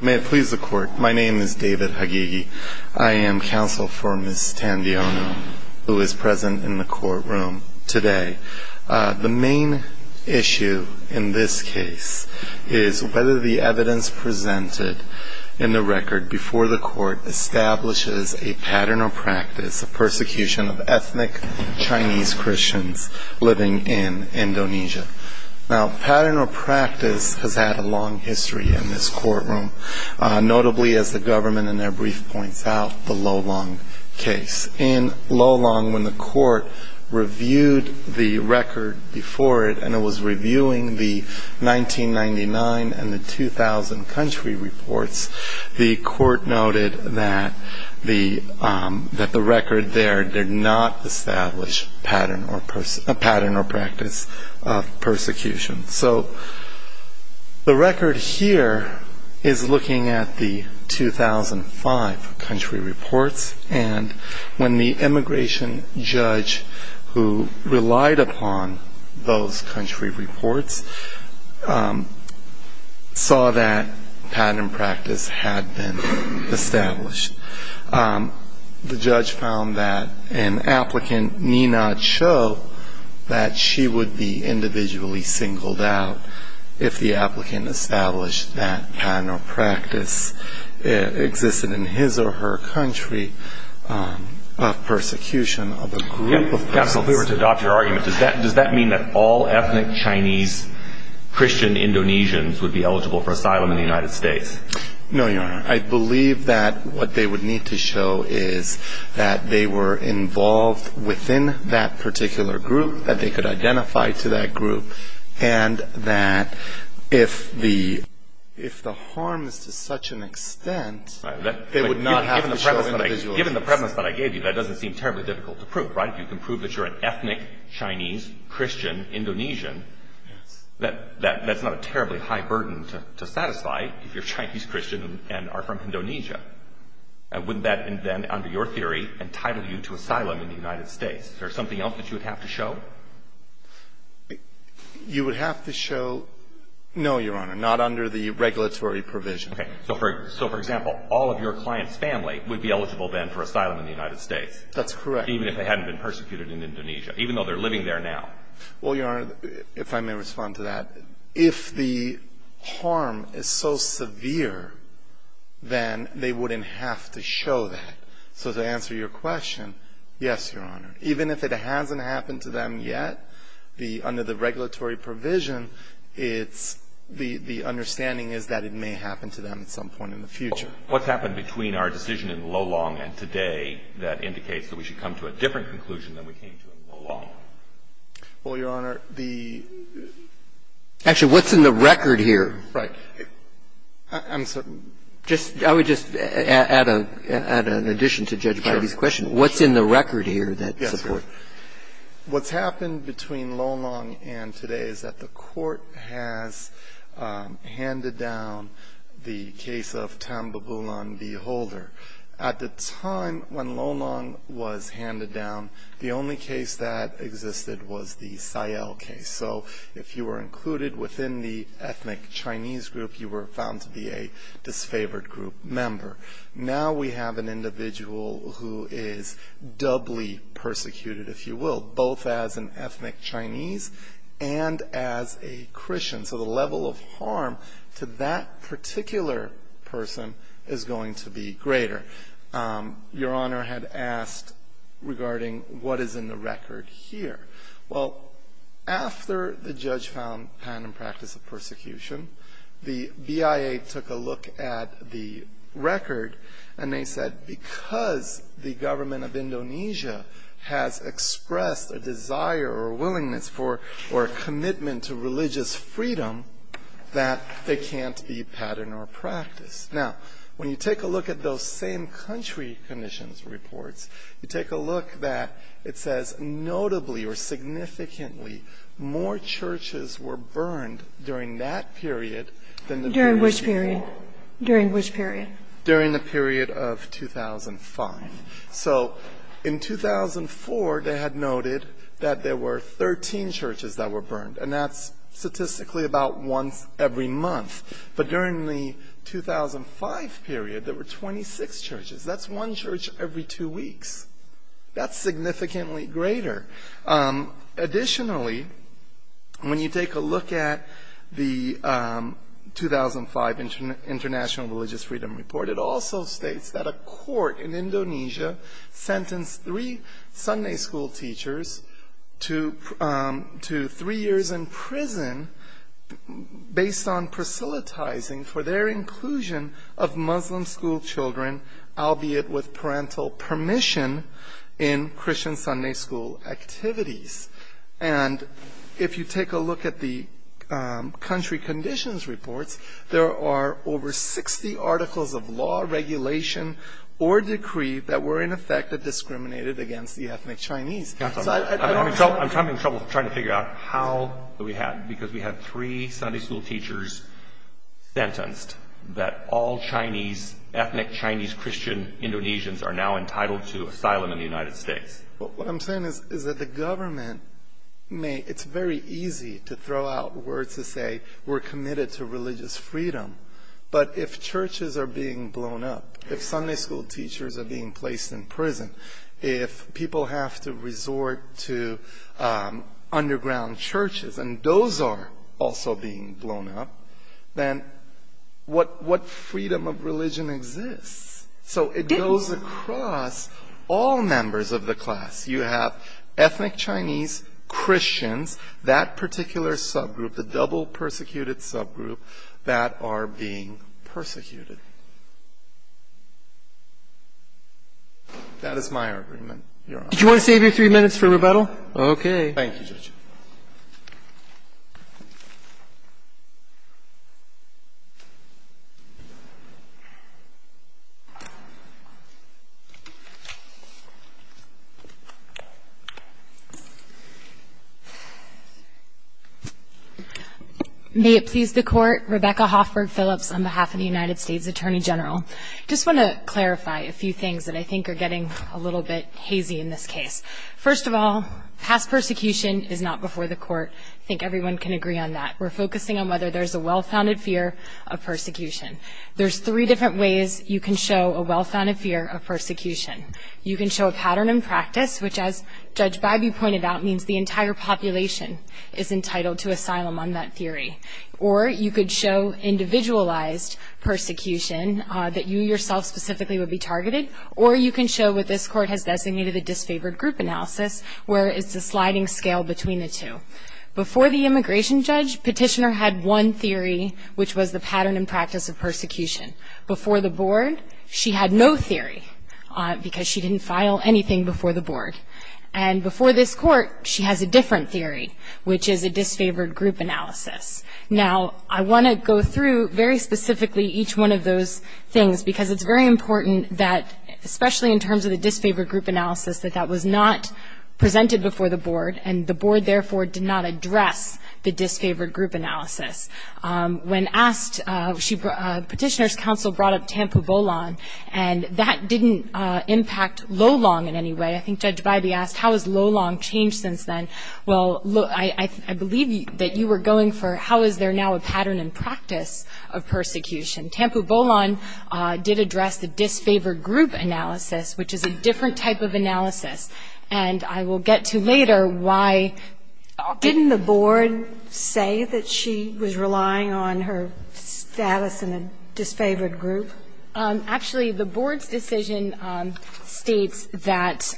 May it please the court, my name is David Hagigi. I am counsel for Ms. Tandiono, who is present in the courtroom today. The main issue in this case is whether the evidence presented in the record before the court establishes a pattern or practice of persecution of ethnic Chinese Christians living in Indonesia. Now, pattern or practice has had a long history in this courtroom, notably as the government in their brief points out, the Lolong case. In Lolong, when the court reviewed the record before it, and it was reviewing the 1999 and the 2000 country reports, the court noted that the record there did not establish a pattern or practice of persecution. So the record here is looking at the 2005 country reports. And when the immigration judge who relied upon those country reports saw that pattern and practice had been established, the judge found that an applicant need not show that she would be individually singled out if the applicant established that pattern or practice existed in his or her country of persecution of a group of persons. Counsel, if we were to adopt your argument, does that mean that all ethnic Chinese Christian Indonesians would be eligible for asylum in the United States? No, Your Honor. I believe that what they would need to show is that they were involved within that particular group, that they could identify to that group, and that if the harm is to such an extent, they would not have to show individuality. Given the premise that I gave you, that doesn't seem terribly difficult to prove, right? If you can prove that you're an ethnic Chinese Christian Indonesian, that's not a terribly high burden to satisfy if you're Chinese Christian and are from Indonesia. Wouldn't that then, under your theory, entitle you to asylum in the United States? Is there something else that you would have to show? You would have to show no, Your Honor, not under the regulatory provision. So for example, all of your client's family would be eligible then for asylum in the United States? That's correct. Even if they hadn't been persecuted in Indonesia, even though they're living there now? Well, Your Honor, if I may respond to that. If the harm is so severe, then they wouldn't have to show that. So to answer your question, yes, Your Honor. Even if it hasn't happened to them yet, under the regulatory provision, the understanding is that it may happen to them at some point in the future. What's happened between our decision in Lolong and today that indicates that we should come to a different conclusion than we came to in Lolong? Well, Your Honor, the ---- Actually, what's in the record here? Right. I'm sorry. Just ---- I would just add an addition to Judge Bidey's question. What's in the record here that supports? Yes. What's happened between Lolong and today is that the Court has handed down the case of Tambabulan v. Holder. At the time when Lolong was handed down, the only case that existed was the Sayal case. So if you were included within the ethnic Chinese group, you were found to be a disfavored group member. Now we have an individual who is doubly persecuted, if you will, both as an ethnic Chinese and as a Christian. So the level of harm to that particular person is going to be greater. Your Honor had asked regarding what is in the record here. Well, after the judge found patent and practice of persecution, the BIA took a look at the record and they said because the government of Indonesia has expressed a desire or a willingness for or a commitment to religious freedom that there can't be patent or practice. Now, when you take a look at those same country conditions reports, you take a look that it says notably or significantly more churches were burned during that period than the period before. During which period? During which period? During the period of 2005. So in 2004, they had noted that there were 13 churches that were burned. And that's statistically about once every month. But during the 2005 period, there were 26 churches. That's one church every two weeks. That's significantly greater. Additionally, when you take a look at the 2005 International Religious Freedom Report, it also states that a court in Indonesia sentenced three Sunday school teachers to three years in prison based on proselytizing for their inclusion of Muslim school children, albeit with parental permission in Christian Sunday school activities. And if you take a look at the country conditions reports, there are over 60 articles of law, regulation, or decree that were in effect that discriminated against the ethnic Chinese. I'm having trouble trying to figure out how we had because we had three Sunday school teachers sentenced that all Chinese, ethnic Chinese, Christian Indonesians are now entitled to asylum in the United States. What I'm saying is that the government may, it's very easy to throw out words to say, we're committed to religious freedom. But if churches are being blown up, if Sunday school teachers are being placed in prison, if people have to resort to underground churches, and those are also being blown up, then what freedom of religion exists? So it goes across all members of the class. You have ethnic Chinese, Christians, that particular subgroup, the double persecuted subgroup, that are being persecuted. That is my argument. Your Honor. Did you want to save your three minutes for rebuttal? Okay. Thank you, Judge. May it please the Court. Rebecca Hoffberg Phillips on behalf of the United States Attorney General. Just want to clarify a few things that I think are getting a little bit hazy in this case. First of all, past persecution is not before the Court. I think everyone can agree on that. We're focusing on whether there's a well-founded fear of persecution. There's three different ways you can show a well-founded fear of persecution. You can show a pattern in practice, which as Judge Bybee pointed out, means the entire population is entitled to asylum on that theory. Or you could show individualized persecution that you yourself specifically would be targeted. Or you can show what this Court has designated a disfavored group analysis, where it's a sliding scale between the two. Before the immigration judge, Petitioner had one theory, which was the pattern and practice of persecution. Before the Board, she had no theory, because she didn't file anything before the Board. And before this Court, she has a different theory, which is a disfavored group analysis. Now, I want to go through very specifically each one of those things, because it's very important that, especially in terms of the disfavored group analysis, that that was not presented before the Board. And the Board, therefore, did not address the disfavored group analysis. When asked, Petitioner's counsel brought up Tampu Bolon, and that didn't impact Lolong in any way. I think Judge Bybee asked, how has Lolong changed since then? Well, I believe that you were going for, how is there now a pattern and practice of persecution? Tampu Bolon did address the disfavored group analysis, which is a different type of analysis. And I will get to later why. Didn't the Board say that she was relying on her status in a disfavored group? Actually, the Board's decision states that,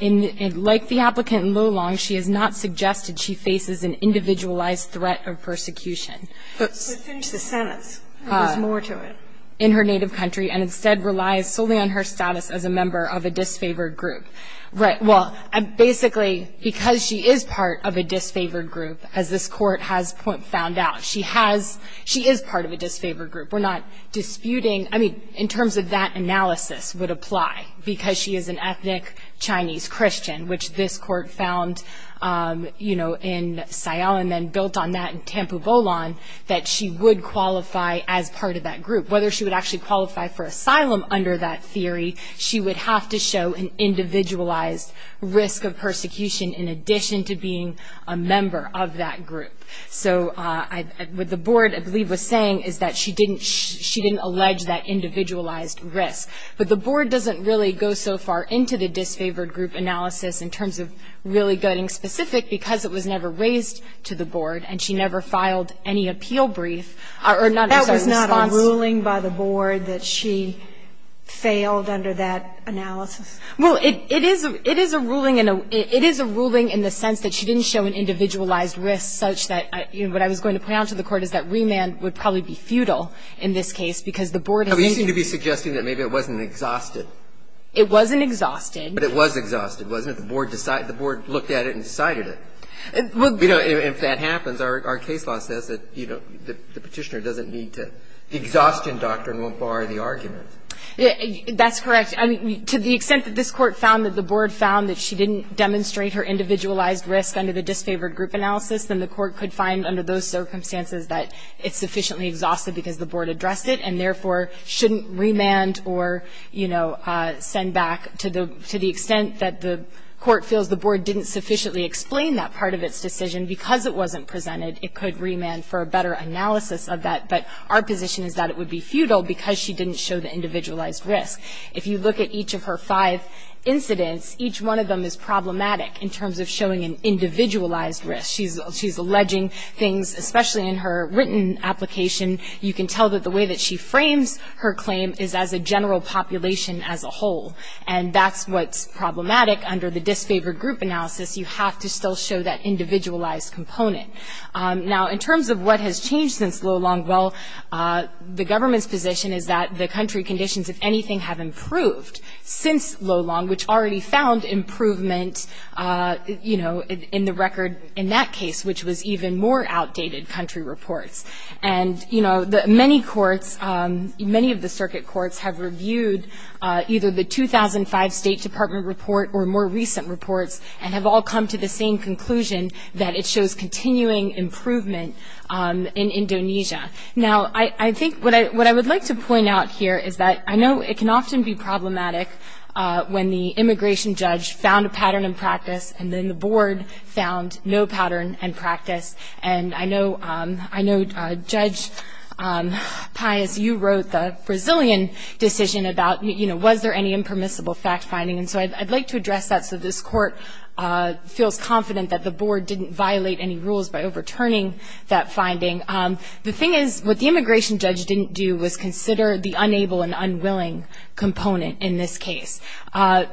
like the applicant in Lolong, she has not suggested she faces an individualized threat of persecution. But since the Senate's, there's more to it. In her native country, and instead relies solely on her status as a member of a disfavored group. Right, well, basically, because she is part of a disfavored group, as this Court has found out, she is part of a disfavored group. We're not disputing, I mean, in terms of that analysis would apply, because she is an ethnic Chinese Christian, which this Court found in Sayal, and then built on that in Tampu Bolon, that she would qualify as part of that group. Whether she would actually qualify for asylum under that theory, she would have to show an individualized risk of persecution in addition to being a member of that group. So, what the Board, I believe, was saying is that she didn't allege that individualized risk. But the Board doesn't really go so far into the disfavored group analysis in terms of really getting specific, because it was never raised to the Board, and she never filed any appeal brief, or none of those responses. That was not a ruling by the Board that she failed under that analysis? Well, it is a ruling in the sense that she didn't show an individualized risk, such that what I was going to point out to the Court is that remand would probably be futile in this case, because the Board has used it. You seem to be suggesting that maybe it wasn't exhausted. It wasn't exhausted. But it was exhausted, wasn't it? Because the Board decided, the Board looked at it and decided it. If that happens, our case law says that the Petitioner doesn't need to, the exhaustion doctrine won't bar the argument. That's correct. To the extent that this Court found that the Board found that she didn't demonstrate her individualized risk under the disfavored group analysis, then the Court could find under those circumstances that it's sufficiently exhausted because the Board addressed it, and therefore shouldn't remand or, you know, send back to the extent that the Court feels the Board didn't sufficiently explain that part of its decision. Because it wasn't presented, it could remand for a better analysis of that. But our position is that it would be futile because she didn't show the individualized risk. If you look at each of her five incidents, each one of them is problematic in terms of showing an individualized risk. She's alleging things, especially in her written application, you can tell that the way that she frames her claim is as a general population as a whole. And that's what's problematic under the disfavored group analysis. You have to still show that individualized component. Now, in terms of what has changed since Lo Long, well, the government's position is that the country conditions, if anything, have improved since Lo Long, which already found improvement, you know, in the record in that case, which was even more outdated country reports. And, you know, many courts, many of the circuit courts have reviewed either the 2005 State Department report or more recent reports, and have all come to the same conclusion that it shows continuing improvement in Indonesia. Now, I think what I would like to point out here is that I know it can often be problematic when the immigration judge found a pattern in practice, and then the board found no pattern in practice. And I know, Judge Pais, you wrote the Brazilian decision about, you know, was there any impermissible fact finding? And so I'd like to address that so this court feels confident that the board didn't violate any rules by overturning that finding. The thing is, what the immigration judge didn't do was consider the unable and unwilling component in this case,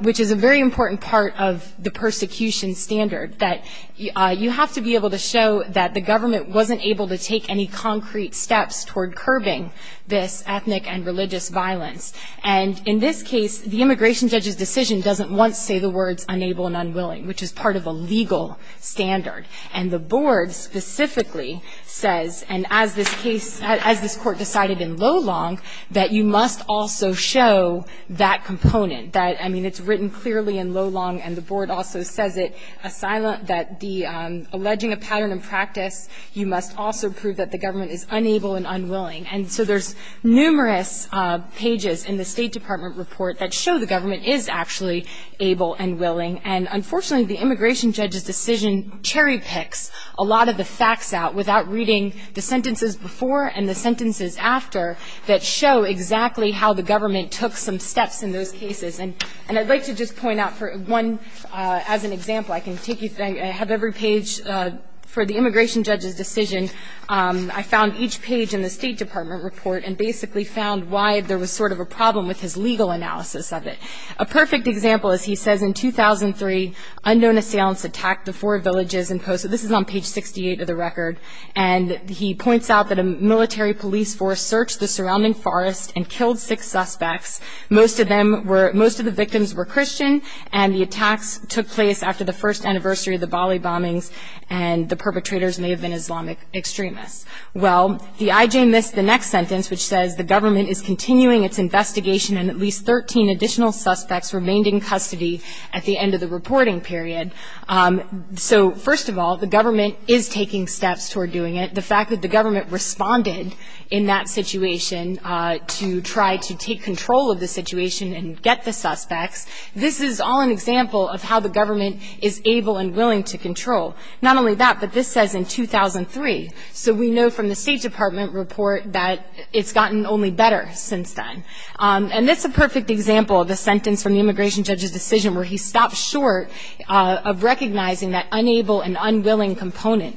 which is a very important part of the persecution standard, that you have to be able to show that the government wasn't able to take any concrete steps toward curbing this ethnic and religious violence. And in this case, the immigration judge's decision doesn't once say the words unable and unwilling, which is part of a legal standard. And the board specifically says, and as this case, as this court decided in Lolong, that you must also show that component. That, I mean, it's written clearly in Lolong, and the board also says it, that alleging a pattern in practice, you must also prove that the government is unable and unwilling. And so there's numerous pages in the State Department report that show the government is actually able and willing. And unfortunately, the immigration judge's decision cherry picks a lot of the facts out without reading the sentences before and the sentences after that show exactly how the government took some steps in those cases. And I'd like to just point out for one, as an example, I can take you, I have every page for the immigration judge's decision. I found each page in the State Department report and basically found why there was sort of a problem with his legal analysis of it. A perfect example, as he says, in 2003, unknown assailants attacked the four villages in Poso. This is on page 68 of the record. And he points out that a military police force searched the surrounding forest and killed six suspects. Most of them were, most of the victims were Christian, and the attacks took place after the first anniversary of the Bali bombings. And the perpetrators may have been Islamic extremists. Well, the IJ missed the next sentence which says the government is continuing its investigation and at least 13 additional suspects remained in custody at the end of the reporting period. So first of all, the government is taking steps toward doing it. The fact that the government responded in that situation to try to take control of the situation and get the suspects, this is all an example of how the government is able and willing to control. Not only that, but this says in 2003. So we know from the State Department report that it's gotten only better since then. And it's a perfect example of the sentence from the immigration judge's decision where he stopped short of recognizing that unable and unwilling component.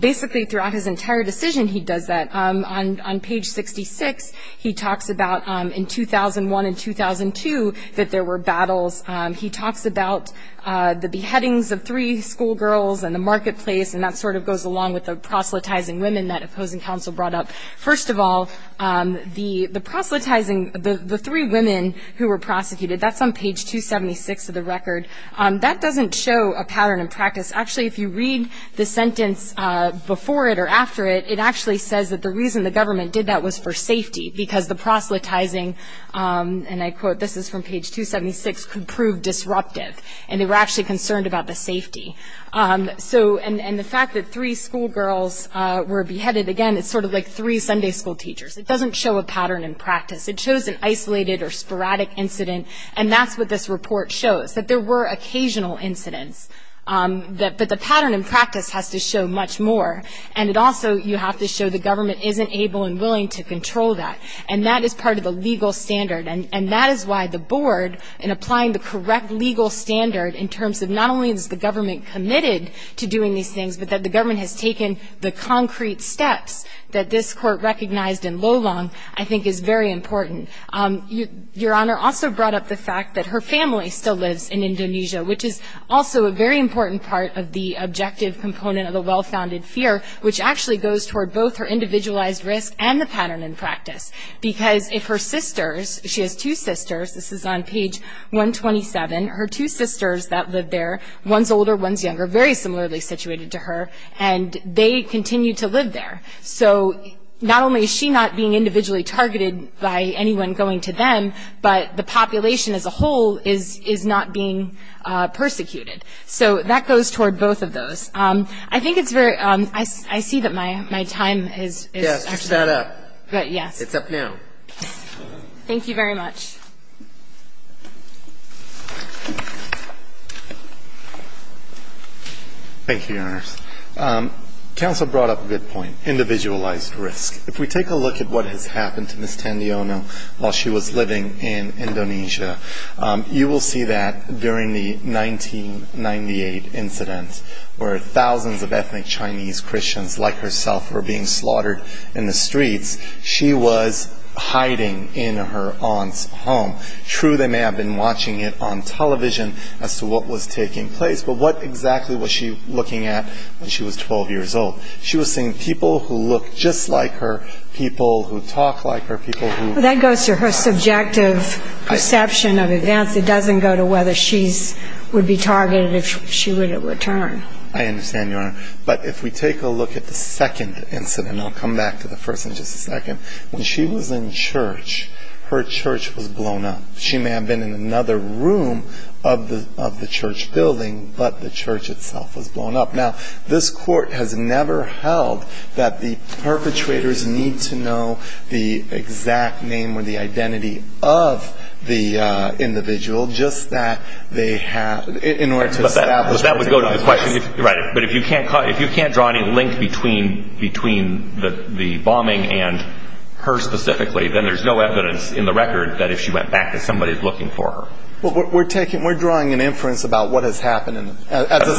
Basically throughout his entire decision, he does that. On page 66, he talks about in 2001 and 2002 that there were battles. He talks about the beheadings of three schoolgirls and the marketplace. And that sort of goes along with the proselytizing women that opposing counsel brought up. First of all, the proselytizing, the three women who were prosecuted, that's on page 276 of the record. That doesn't show a pattern in practice. Actually, if you read the sentence before it or after it, it actually says that the reason the government did that was for safety. Because the proselytizing, and I quote, this is from page 276, could prove disruptive. And they were actually concerned about the safety. So, and the fact that three schoolgirls were beheaded, again, it's sort of like three Sunday school teachers. It doesn't show a pattern in practice. It shows an isolated or sporadic incident. And that's what this report shows, that there were occasional incidents. But the pattern in practice has to show much more. And it also, you have to show the government isn't able and willing to control that. And that is part of the legal standard. And that is why the board, in applying the correct legal standard in terms of not only is the government committed to doing these things, but that the government has taken the concrete steps that this court recognized in Lolong, I think is very important. Your Honor also brought up the fact that her family still lives in Indonesia, which is also a very important part of the objective component of the well-founded fear, which actually goes toward both her individualized risk and the pattern in practice. Because if her sisters, she has two sisters, this is on page 127, her two sisters that live there, one's older, one's younger, very similarly situated to her. And they continue to live there. So, not only is she not being individually targeted by anyone going to them, but the population as a whole is not being persecuted. So, that goes toward both of those. I think it's very, I see that my time is. Yes, put that up. Yes. It's up now. Thank you very much. Thank you, Your Honor. Counsel brought up a good point, individualized risk. If we take a look at what has happened to Ms. Tandiono while she was living in Indonesia, you will see that during the 1998 incident, where thousands of ethnic Chinese Christians like herself were being slaughtered in the streets, she was hiding in her aunt's home. True, they may have been watching it on television as to what was taking place, but what exactly was she looking at when she was 12 years old? She was seeing people who look just like her, people who talk like her, people who. That goes to her subjective perception of events. It doesn't go to whether she would be targeted if she were to return. I understand, Your Honor. But if we take a look at the second incident, I'll come back to the first in just a second. When she was in church, her church was blown up. She may have been in another room of the church building, but the church itself was blown up. Now, this court has never held that the perpetrators need to know the exact name or the identity of the individual just that they have, in order to establish what took place. Right, but if you can't draw any link between the bombing and her specifically, then there's no evidence in the record that if she went back that somebody was looking for her. We're drawing an inference about what has happened. As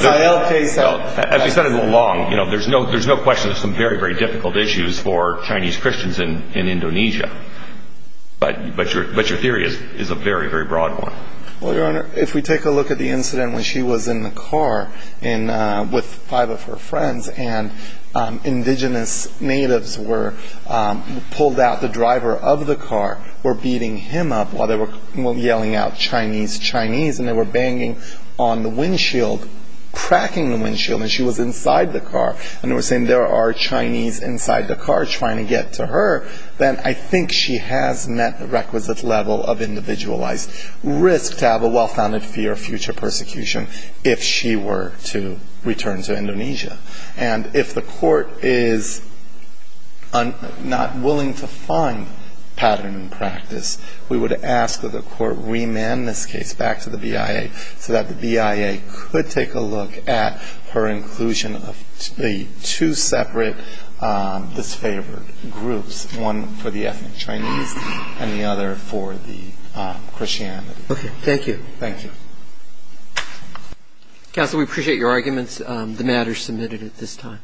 we said in the law, there's no question there's some very, very difficult issues for Chinese Christians in Indonesia. But your theory is a very, very broad one. Well, Your Honor, if we take a look at the incident when she was in the car with five of her friends, and indigenous natives were pulled out. The driver of the car were beating him up while they were yelling out Chinese, Chinese, and they were banging on the windshield, cracking the windshield, and she was inside the car. And we're saying there are Chinese inside the car trying to get to her, then I think she has met the requisite level of individualized risk to have a well-founded fear of future persecution, if she were to return to Indonesia. And if the court is not willing to find pattern and practice, we would ask that the court remand this case back to the BIA, so that the BIA could take a look at her inclusion of the two separate disfavored groups, one for the ethnic Chinese and the other for the Christianity. Okay, thank you. Thank you. Counsel, we appreciate your arguments. The matter is submitted at this time.